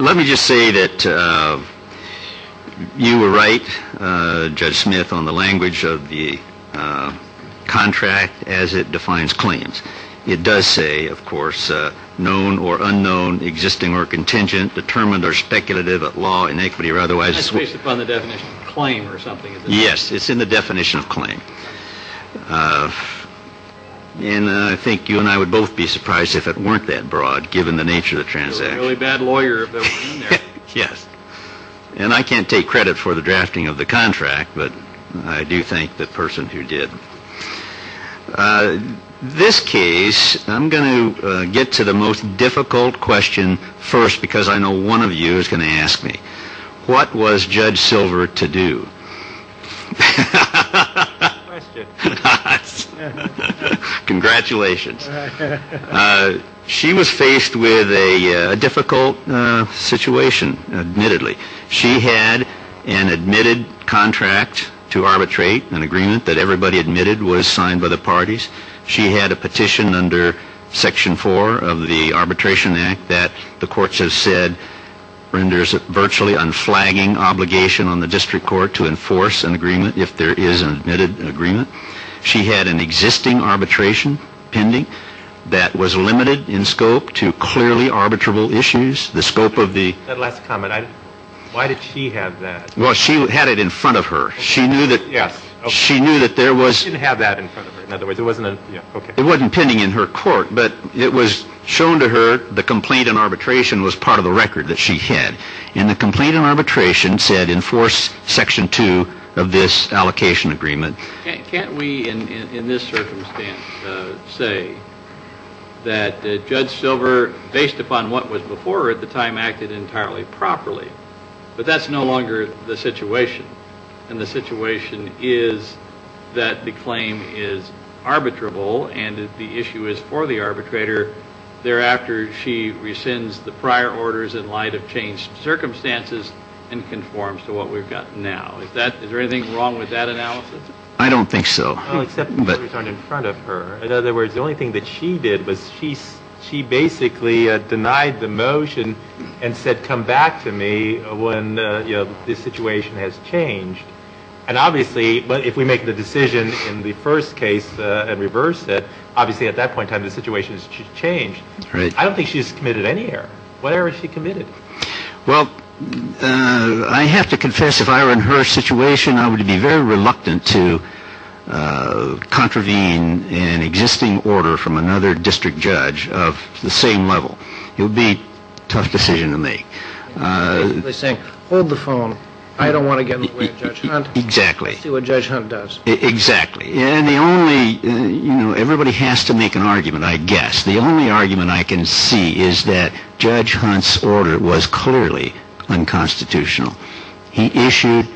Let me just say that you were right, Judge Smith, on the language of the contract as it defines claims. It does say, of course, known or unknown, existing or contingent, determined or speculative, at law, inequity or otherwise. That's based upon the definition of claim or something, isn't it? Yes, it's in the definition of claim. And I think you and I would both be surprised if it weren't that broad, given the nature of the transaction. You'd be a really bad lawyer if that was in there. And I can't take credit for the drafting of the contract, but I do thank the person who did. This case, I'm going to get to the most difficult question first, because I know one of you is going to ask me. What was Judge Silver to do? Congratulations. She was faced with a difficult situation, admittedly. She had an admitted contract to arbitrate, an agreement that everybody admitted was signed by the parties. She had a petition under Section 4 of the Arbitration Act that the courts have said renders virtually unflagging obligation on the district court to enforce an agreement if there is an admitted agreement. She had an existing arbitration pending that was limited in scope to clearly arbitrable issues. The scope of the... That last comment, why did she have that? Well, she had it in front of her. She knew that... Yes. She knew that there was... She didn't have that in front of her. In other words, it wasn't... It wasn't pending in her court, but it was shown to her the complaint in arbitration was part of the record that she had. And the complaint in arbitration said enforce Section 2 of this allocation agreement. Can't we, in this circumstance, say that Judge Silver, based upon what was before her at the time, acted entirely properly? But that's no longer the situation. And the situation is that the claim is arbitrable and the issue is for the arbitrator. Thereafter, she rescinds the prior orders in light of changed circumstances and conforms to what we've got now. Is there anything wrong with that analysis? I don't think so. Well, except that it was done in front of her. In other words, the only thing that she did was she basically denied the motion and said, come back to me when this situation has changed. And obviously, if we make the decision in the first case and reverse it, obviously at that point in time the situation has changed. I don't think she's committed any error. What error has she committed? Well, I have to confess, if I were in her situation, I would be very reluctant to contravene an existing order from another district judge of the same level. It would be a tough decision to make. Basically saying, hold the phone. I don't want to get in the way of Judge Hunt. Exactly. See what Judge Hunt does. Exactly. And the only, you know, everybody has to make an argument, I guess. The only argument I can see is that Judge Hunt's order was clearly unconstitutional. He issued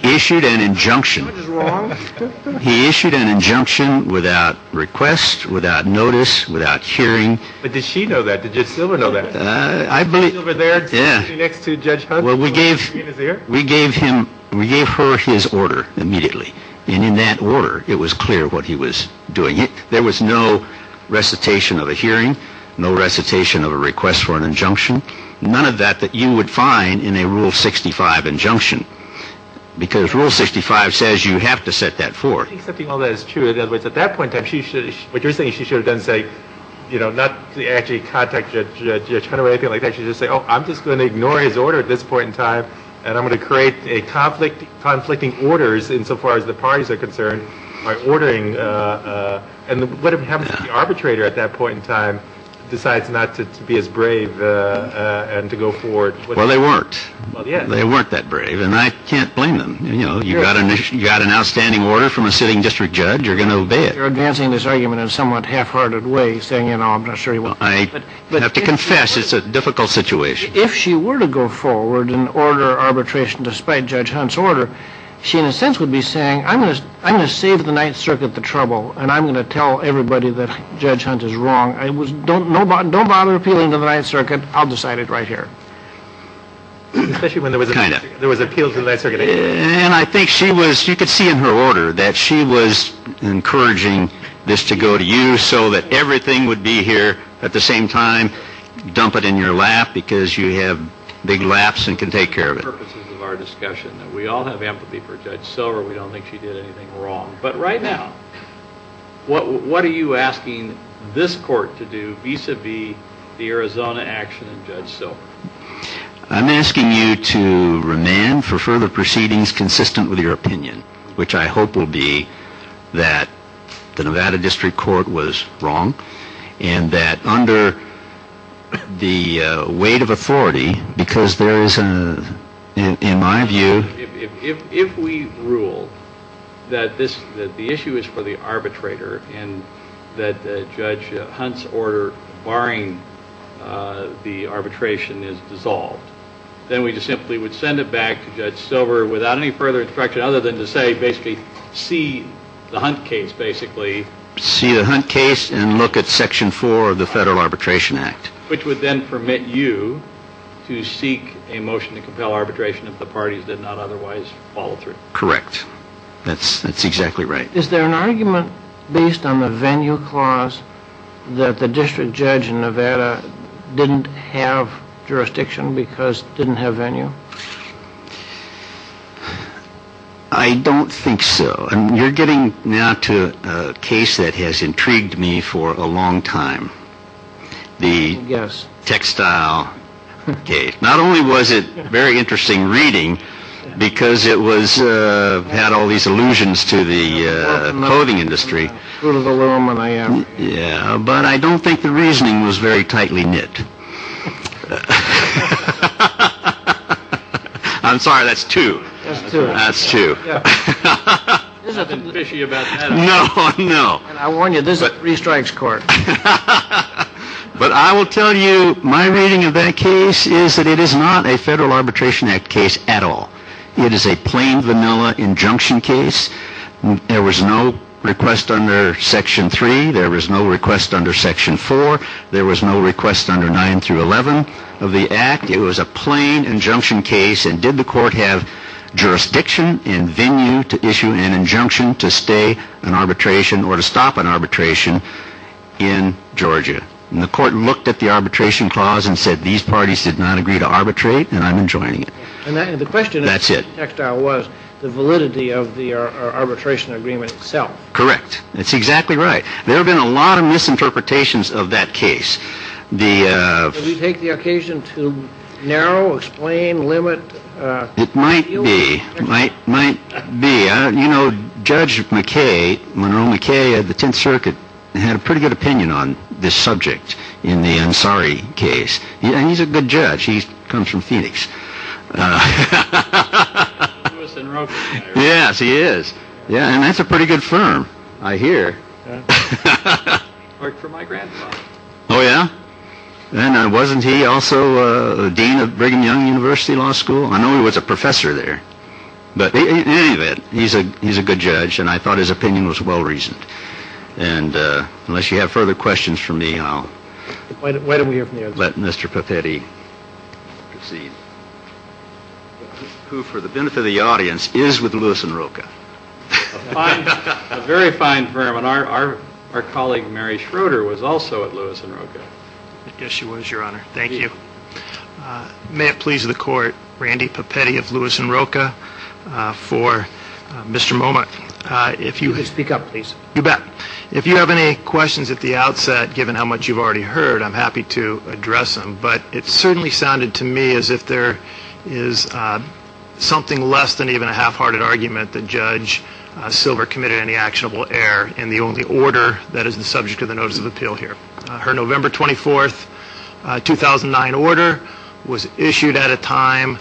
an injunction. Judge is wrong. He issued an injunction without request, without notice, without hearing. But did she know that? Did Judge Silver know that? I believe. Standing over there next to Judge Hunt. Well, we gave her his order immediately. And in that order it was clear what he was doing. There was no recitation of a hearing. No recitation of a request for an injunction. None of that that you would find in a Rule 65 injunction. Because Rule 65 says you have to set that forth. Accepting all that is true. In other words, at that point in time, what you're saying she should have done is say, you know, not actually contact Judge Hunt or anything like that. She should have said, oh, I'm just going to ignore his order at this point in time. And I'm going to create conflicting orders insofar as the parties are concerned by ordering. And what happens if the arbitrator at that point in time decides not to be as brave and to go forward? Well, they weren't. They weren't that brave. And I can't blame them. You know, you got an outstanding order from a sitting district judge, you're going to obey it. You're advancing this argument in a somewhat half-hearted way, saying, you know, I'm not sure he will. I have to confess it's a difficult situation. If she were to go forward and order arbitration despite Judge Hunt's order, she in a sense would be saying, I'm going to save the Ninth Circuit the trouble, and I'm going to tell everybody that Judge Hunt is wrong. Don't bother appealing to the Ninth Circuit. I'll decide it right here. Especially when there was an appeal to the Ninth Circuit. And I think she was, you could see in her order that she was encouraging this to go to you so that everything would be here at the same time. Dump it in your lap because you have big laps and can take care of it. For the purposes of our discussion, we all have empathy for Judge Silver. We don't think she did anything wrong. But right now, what are you asking this court to do vis-a-vis the Arizona action and Judge Silver? I'm asking you to remand for further proceedings consistent with your opinion, which I hope will be that the Nevada District Court was wrong and that under the weight of authority, because there is, in my view. If we rule that the issue is for the arbitrator and that Judge Hunt's order barring the arbitration is dissolved, then we just simply would send it back to Judge Silver without any further instruction other than to say, basically, see the Hunt case, basically. See the Hunt case and look at Section 4 of the Federal Arbitration Act. Which would then permit you to seek a motion to compel arbitration if the parties did not otherwise follow through. Correct. That's exactly right. Is there an argument based on the venue clause that the district judge in Nevada didn't have jurisdiction because it didn't have venue? I don't think so. You're getting now to a case that has intrigued me for a long time. The textile case. Not only was it very interesting reading because it had all these allusions to the clothing industry. But I don't think the reasoning was very tightly knit. I'm sorry, that's two. That's two. No, no. I warn you, this is a three strikes court. But I will tell you, my reading of that case is that it is not a Federal Arbitration Act case at all. It is a plain vanilla injunction case. There was no request under Section 3. There was no request under Section 4. There was no request under 9 through 11 of the Act. It was a plain injunction case. And did the court have jurisdiction and venue to issue an injunction to stay an arbitration or to stop an arbitration in Georgia? And the court looked at the arbitration clause and said these parties did not agree to arbitrate and I'm enjoining it. And the question of textile was the validity of the arbitration agreement itself. Correct. That's exactly right. There have been a lot of misinterpretations of that case. Will you take the occasion to narrow, explain, limit? It might be. It might be. You know, Judge Monroe McKay of the Tenth Circuit had a pretty good opinion on this subject in the Ansari case. And he's a good judge. He comes from Phoenix. Yes, he is. And that's a pretty good firm, I hear. He worked for my grandfather. Oh, yeah? And wasn't he also dean of Brigham Young University Law School? I know he was a professor there. But in any event, he's a good judge and I thought his opinion was well reasoned. And unless you have further questions for me, I'll let Mr. Pathetti proceed. Who, for the benefit of the audience, is with Lewis and Roca. A very fine firm. And our colleague, Mary Schroeder, was also with Lewis and Roca. Yes, she was, Your Honor. Thank you. May it please the Court, Randy Pathetti of Lewis and Roca for Mr. Moma. You can speak up, please. You bet. If you have any questions at the outset, given how much you've already heard, I'm happy to address them. But it certainly sounded to me as if there is something less than even a half-hearted argument that Judge Silver committed any actionable error in the only order that is the subject of the Notice of Appeal here. Her November 24, 2009 order was issued at a time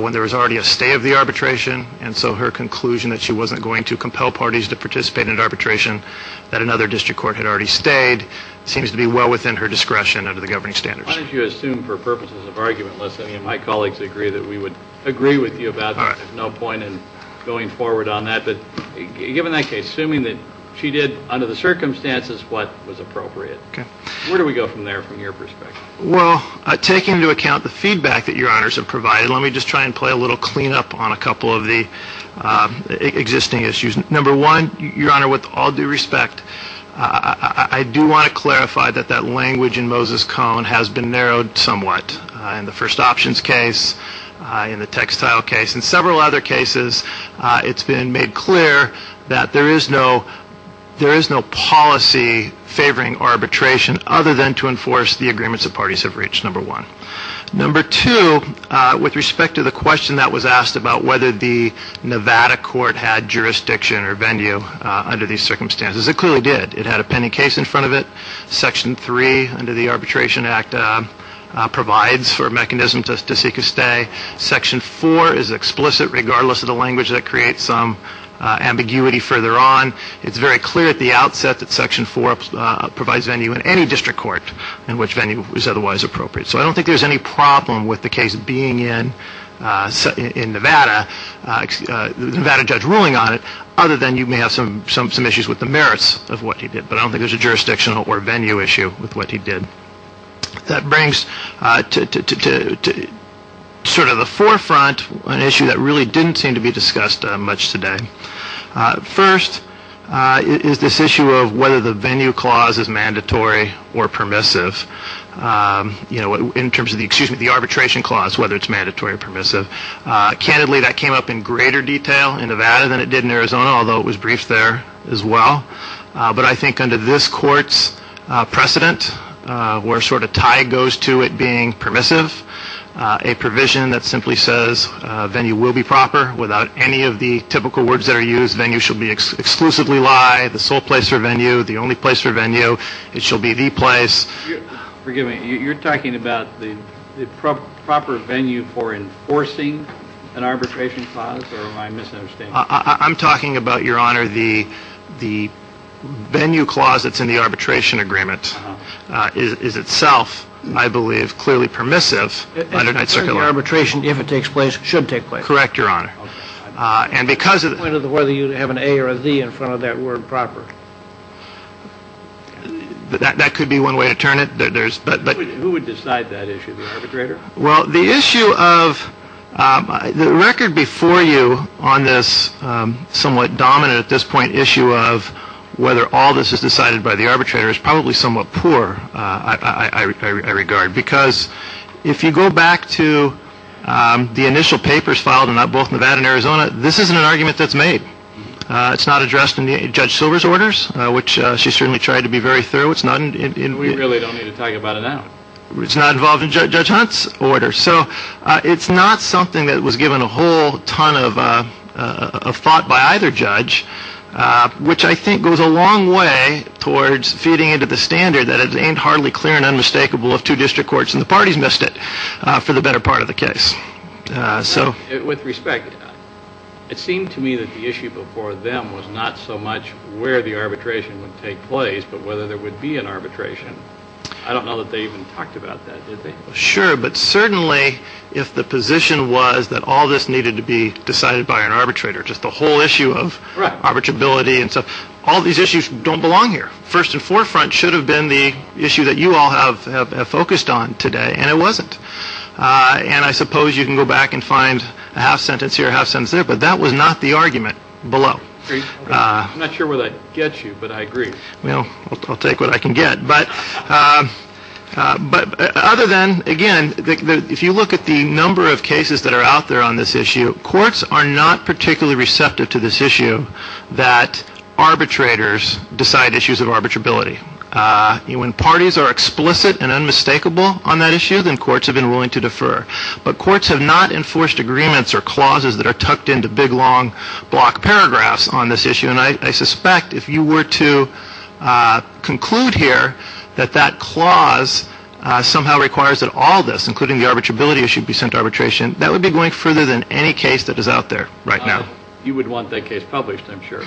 when there was already a stay of the arbitration. And so her conclusion that she wasn't going to compel parties to participate in arbitration that another district court had already stayed seems to be well within her discretion under the governing standards. Why don't you assume for purposes of argument, unless any of my colleagues agree that we would agree with you about this, there's no point in going forward on that. But given that case, assuming that she did under the circumstances what was appropriate, where do we go from there from your perspective? Well, taking into account the feedback that Your Honors have provided, let me just try and play a little cleanup on a couple of the existing issues. Number one, Your Honor, with all due respect, I do want to clarify that that language in Moses Cone has been narrowed somewhat. In the first options case, in the textile case, in several other cases, it's been made clear that there is no policy favoring arbitration other than to enforce the agreements that parties have reached, number one. Number two, with respect to the question that was asked about whether the Nevada court had jurisdiction or venue under these circumstances, it clearly did. It had a pending case in front of it. Section 3 under the Arbitration Act provides for a mechanism to seek a stay. Section 4 is explicit regardless of the language that creates some ambiguity further on. It's very clear at the outset that Section 4 provides venue in any district court in which venue is otherwise appropriate. So I don't think there's any problem with the case being in Nevada, Nevada judge ruling on it, other than you may have some issues with the merits of what he did. But I don't think there's a jurisdictional or venue issue with what he did. That brings to sort of the forefront an issue that really didn't seem to be discussed much today. First is this issue of whether the venue clause is mandatory or permissive, in terms of the arbitration clause, whether it's mandatory or permissive. Candidly, that came up in greater detail in Nevada than it did in Arizona, although it was briefed there as well. But I think under this court's precedent, where sort of tie goes to it being permissive, a provision that simply says venue will be proper without any of the typical words that are used, venue shall be exclusively lie, the sole place for venue, the only place for venue, it shall be the place. Forgive me. You're talking about the proper venue for enforcing an arbitration clause, or am I misunderstanding? I'm talking about, Your Honor, the venue clause that's in the arbitration agreement is itself, I believe, clearly permissive. And the arbitration, if it takes place, should take place. Correct, Your Honor. And because of the point of whether you have an A or a Z in front of that word proper. That could be one way to turn it. Who would decide that issue, the arbitrator? Well, the issue of the record before you on this somewhat dominant at this point issue of whether all this is decided by the arbitrator is probably somewhat poor, I regard, because if you go back to the initial papers filed in both Nevada and Arizona, this isn't an argument that's made. It's not addressed in Judge Silver's orders, which she certainly tried to be very thorough. We really don't need to talk about it now. It's not involved in Judge Hunt's orders. So it's not something that was given a whole ton of thought by either judge, which I think goes a long way towards feeding into the standard that it ain't hardly clear and unmistakable of two district courts, and the parties missed it for the better part of the case. With respect, it seemed to me that the issue before them was not so much where the arbitration would take place, but whether there would be an arbitration. I don't know that they even talked about that, did they? Sure, but certainly if the position was that all this needed to be decided by an arbitrator, just the whole issue of arbitrability and stuff, all these issues don't belong here. First and forefront should have been the issue that you all have focused on today, and it wasn't. And I suppose you can go back and find a half sentence here, a half sentence there, but that was not the argument below. I'm not sure whether I get you, but I agree. Well, I'll take what I can get. But other than, again, if you look at the number of cases that are out there on this issue, courts are not particularly receptive to this issue that arbitrators decide issues of arbitrability. When parties are explicit and unmistakable on that issue, then courts have been willing to defer. But courts have not enforced agreements or clauses that are tucked into big, long block paragraphs on this issue. And I suspect if you were to conclude here that that clause somehow requires that all this, including the arbitrability issue be sent to arbitration, that would be going further than any case that is out there right now. You would want that case published, I'm sure.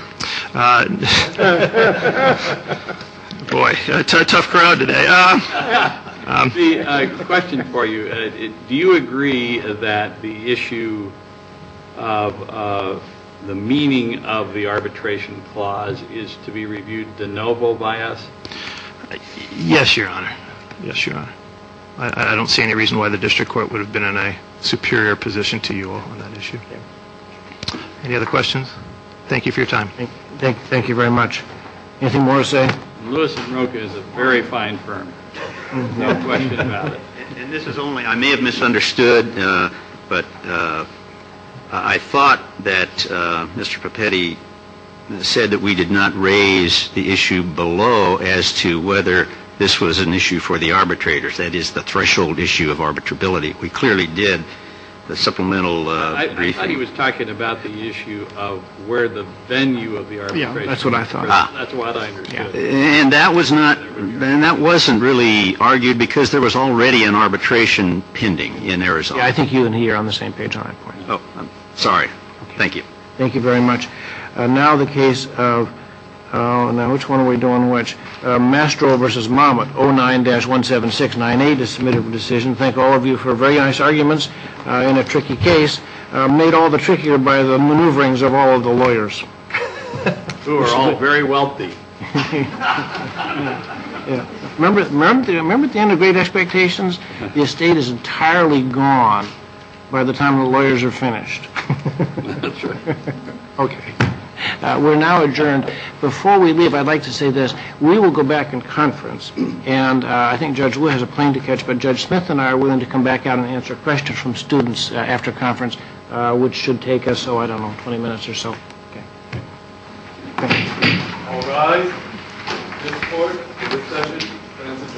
Boy, tough crowd today. Let me ask a question for you. Do you agree that the issue of the meaning of the arbitration clause is to be reviewed de novo by us? Yes, Your Honor. Yes, Your Honor. I don't see any reason why the district court would have been in a superior position to you on that issue. Any other questions? Thank you for your time. Thank you very much. Anything more to say? Lewis & Rocha is a very fine firm. No question about it. And this is only, I may have misunderstood, but I thought that Mr. Popetti said that we did not raise the issue below as to whether this was an issue for the arbitrators, that is, the threshold issue of arbitrability. We clearly did. The supplemental briefing. I thought he was talking about the issue of where the venue of the arbitration was. Yeah, that's what I thought. That's what I understood. And that wasn't really argued because there was already an arbitration pending in Arizona. Yeah, I think you and he are on the same page on that point. Oh, I'm sorry. Thank you. Thank you very much. Now the case of, oh, now which one are we doing which? Mastro versus Mamet, 09-17698 is submitted for decision. I can thank all of you for very nice arguments in a tricky case, made all the trickier by the maneuverings of all of the lawyers. Who are all very wealthy. Remember at the end of Great Expectations, the estate is entirely gone by the time the lawyers are finished. That's right. Okay. We're now adjourned. Before we leave, I'd like to say this. We will go back and conference. And I think Judge Wood has a plane to catch, but Judge Smith and I are willing to come back out and answer questions from students after conference, which should take us, oh, I don't know, 20 minutes or so. Okay. Thank you. All rise. This court is adjourned.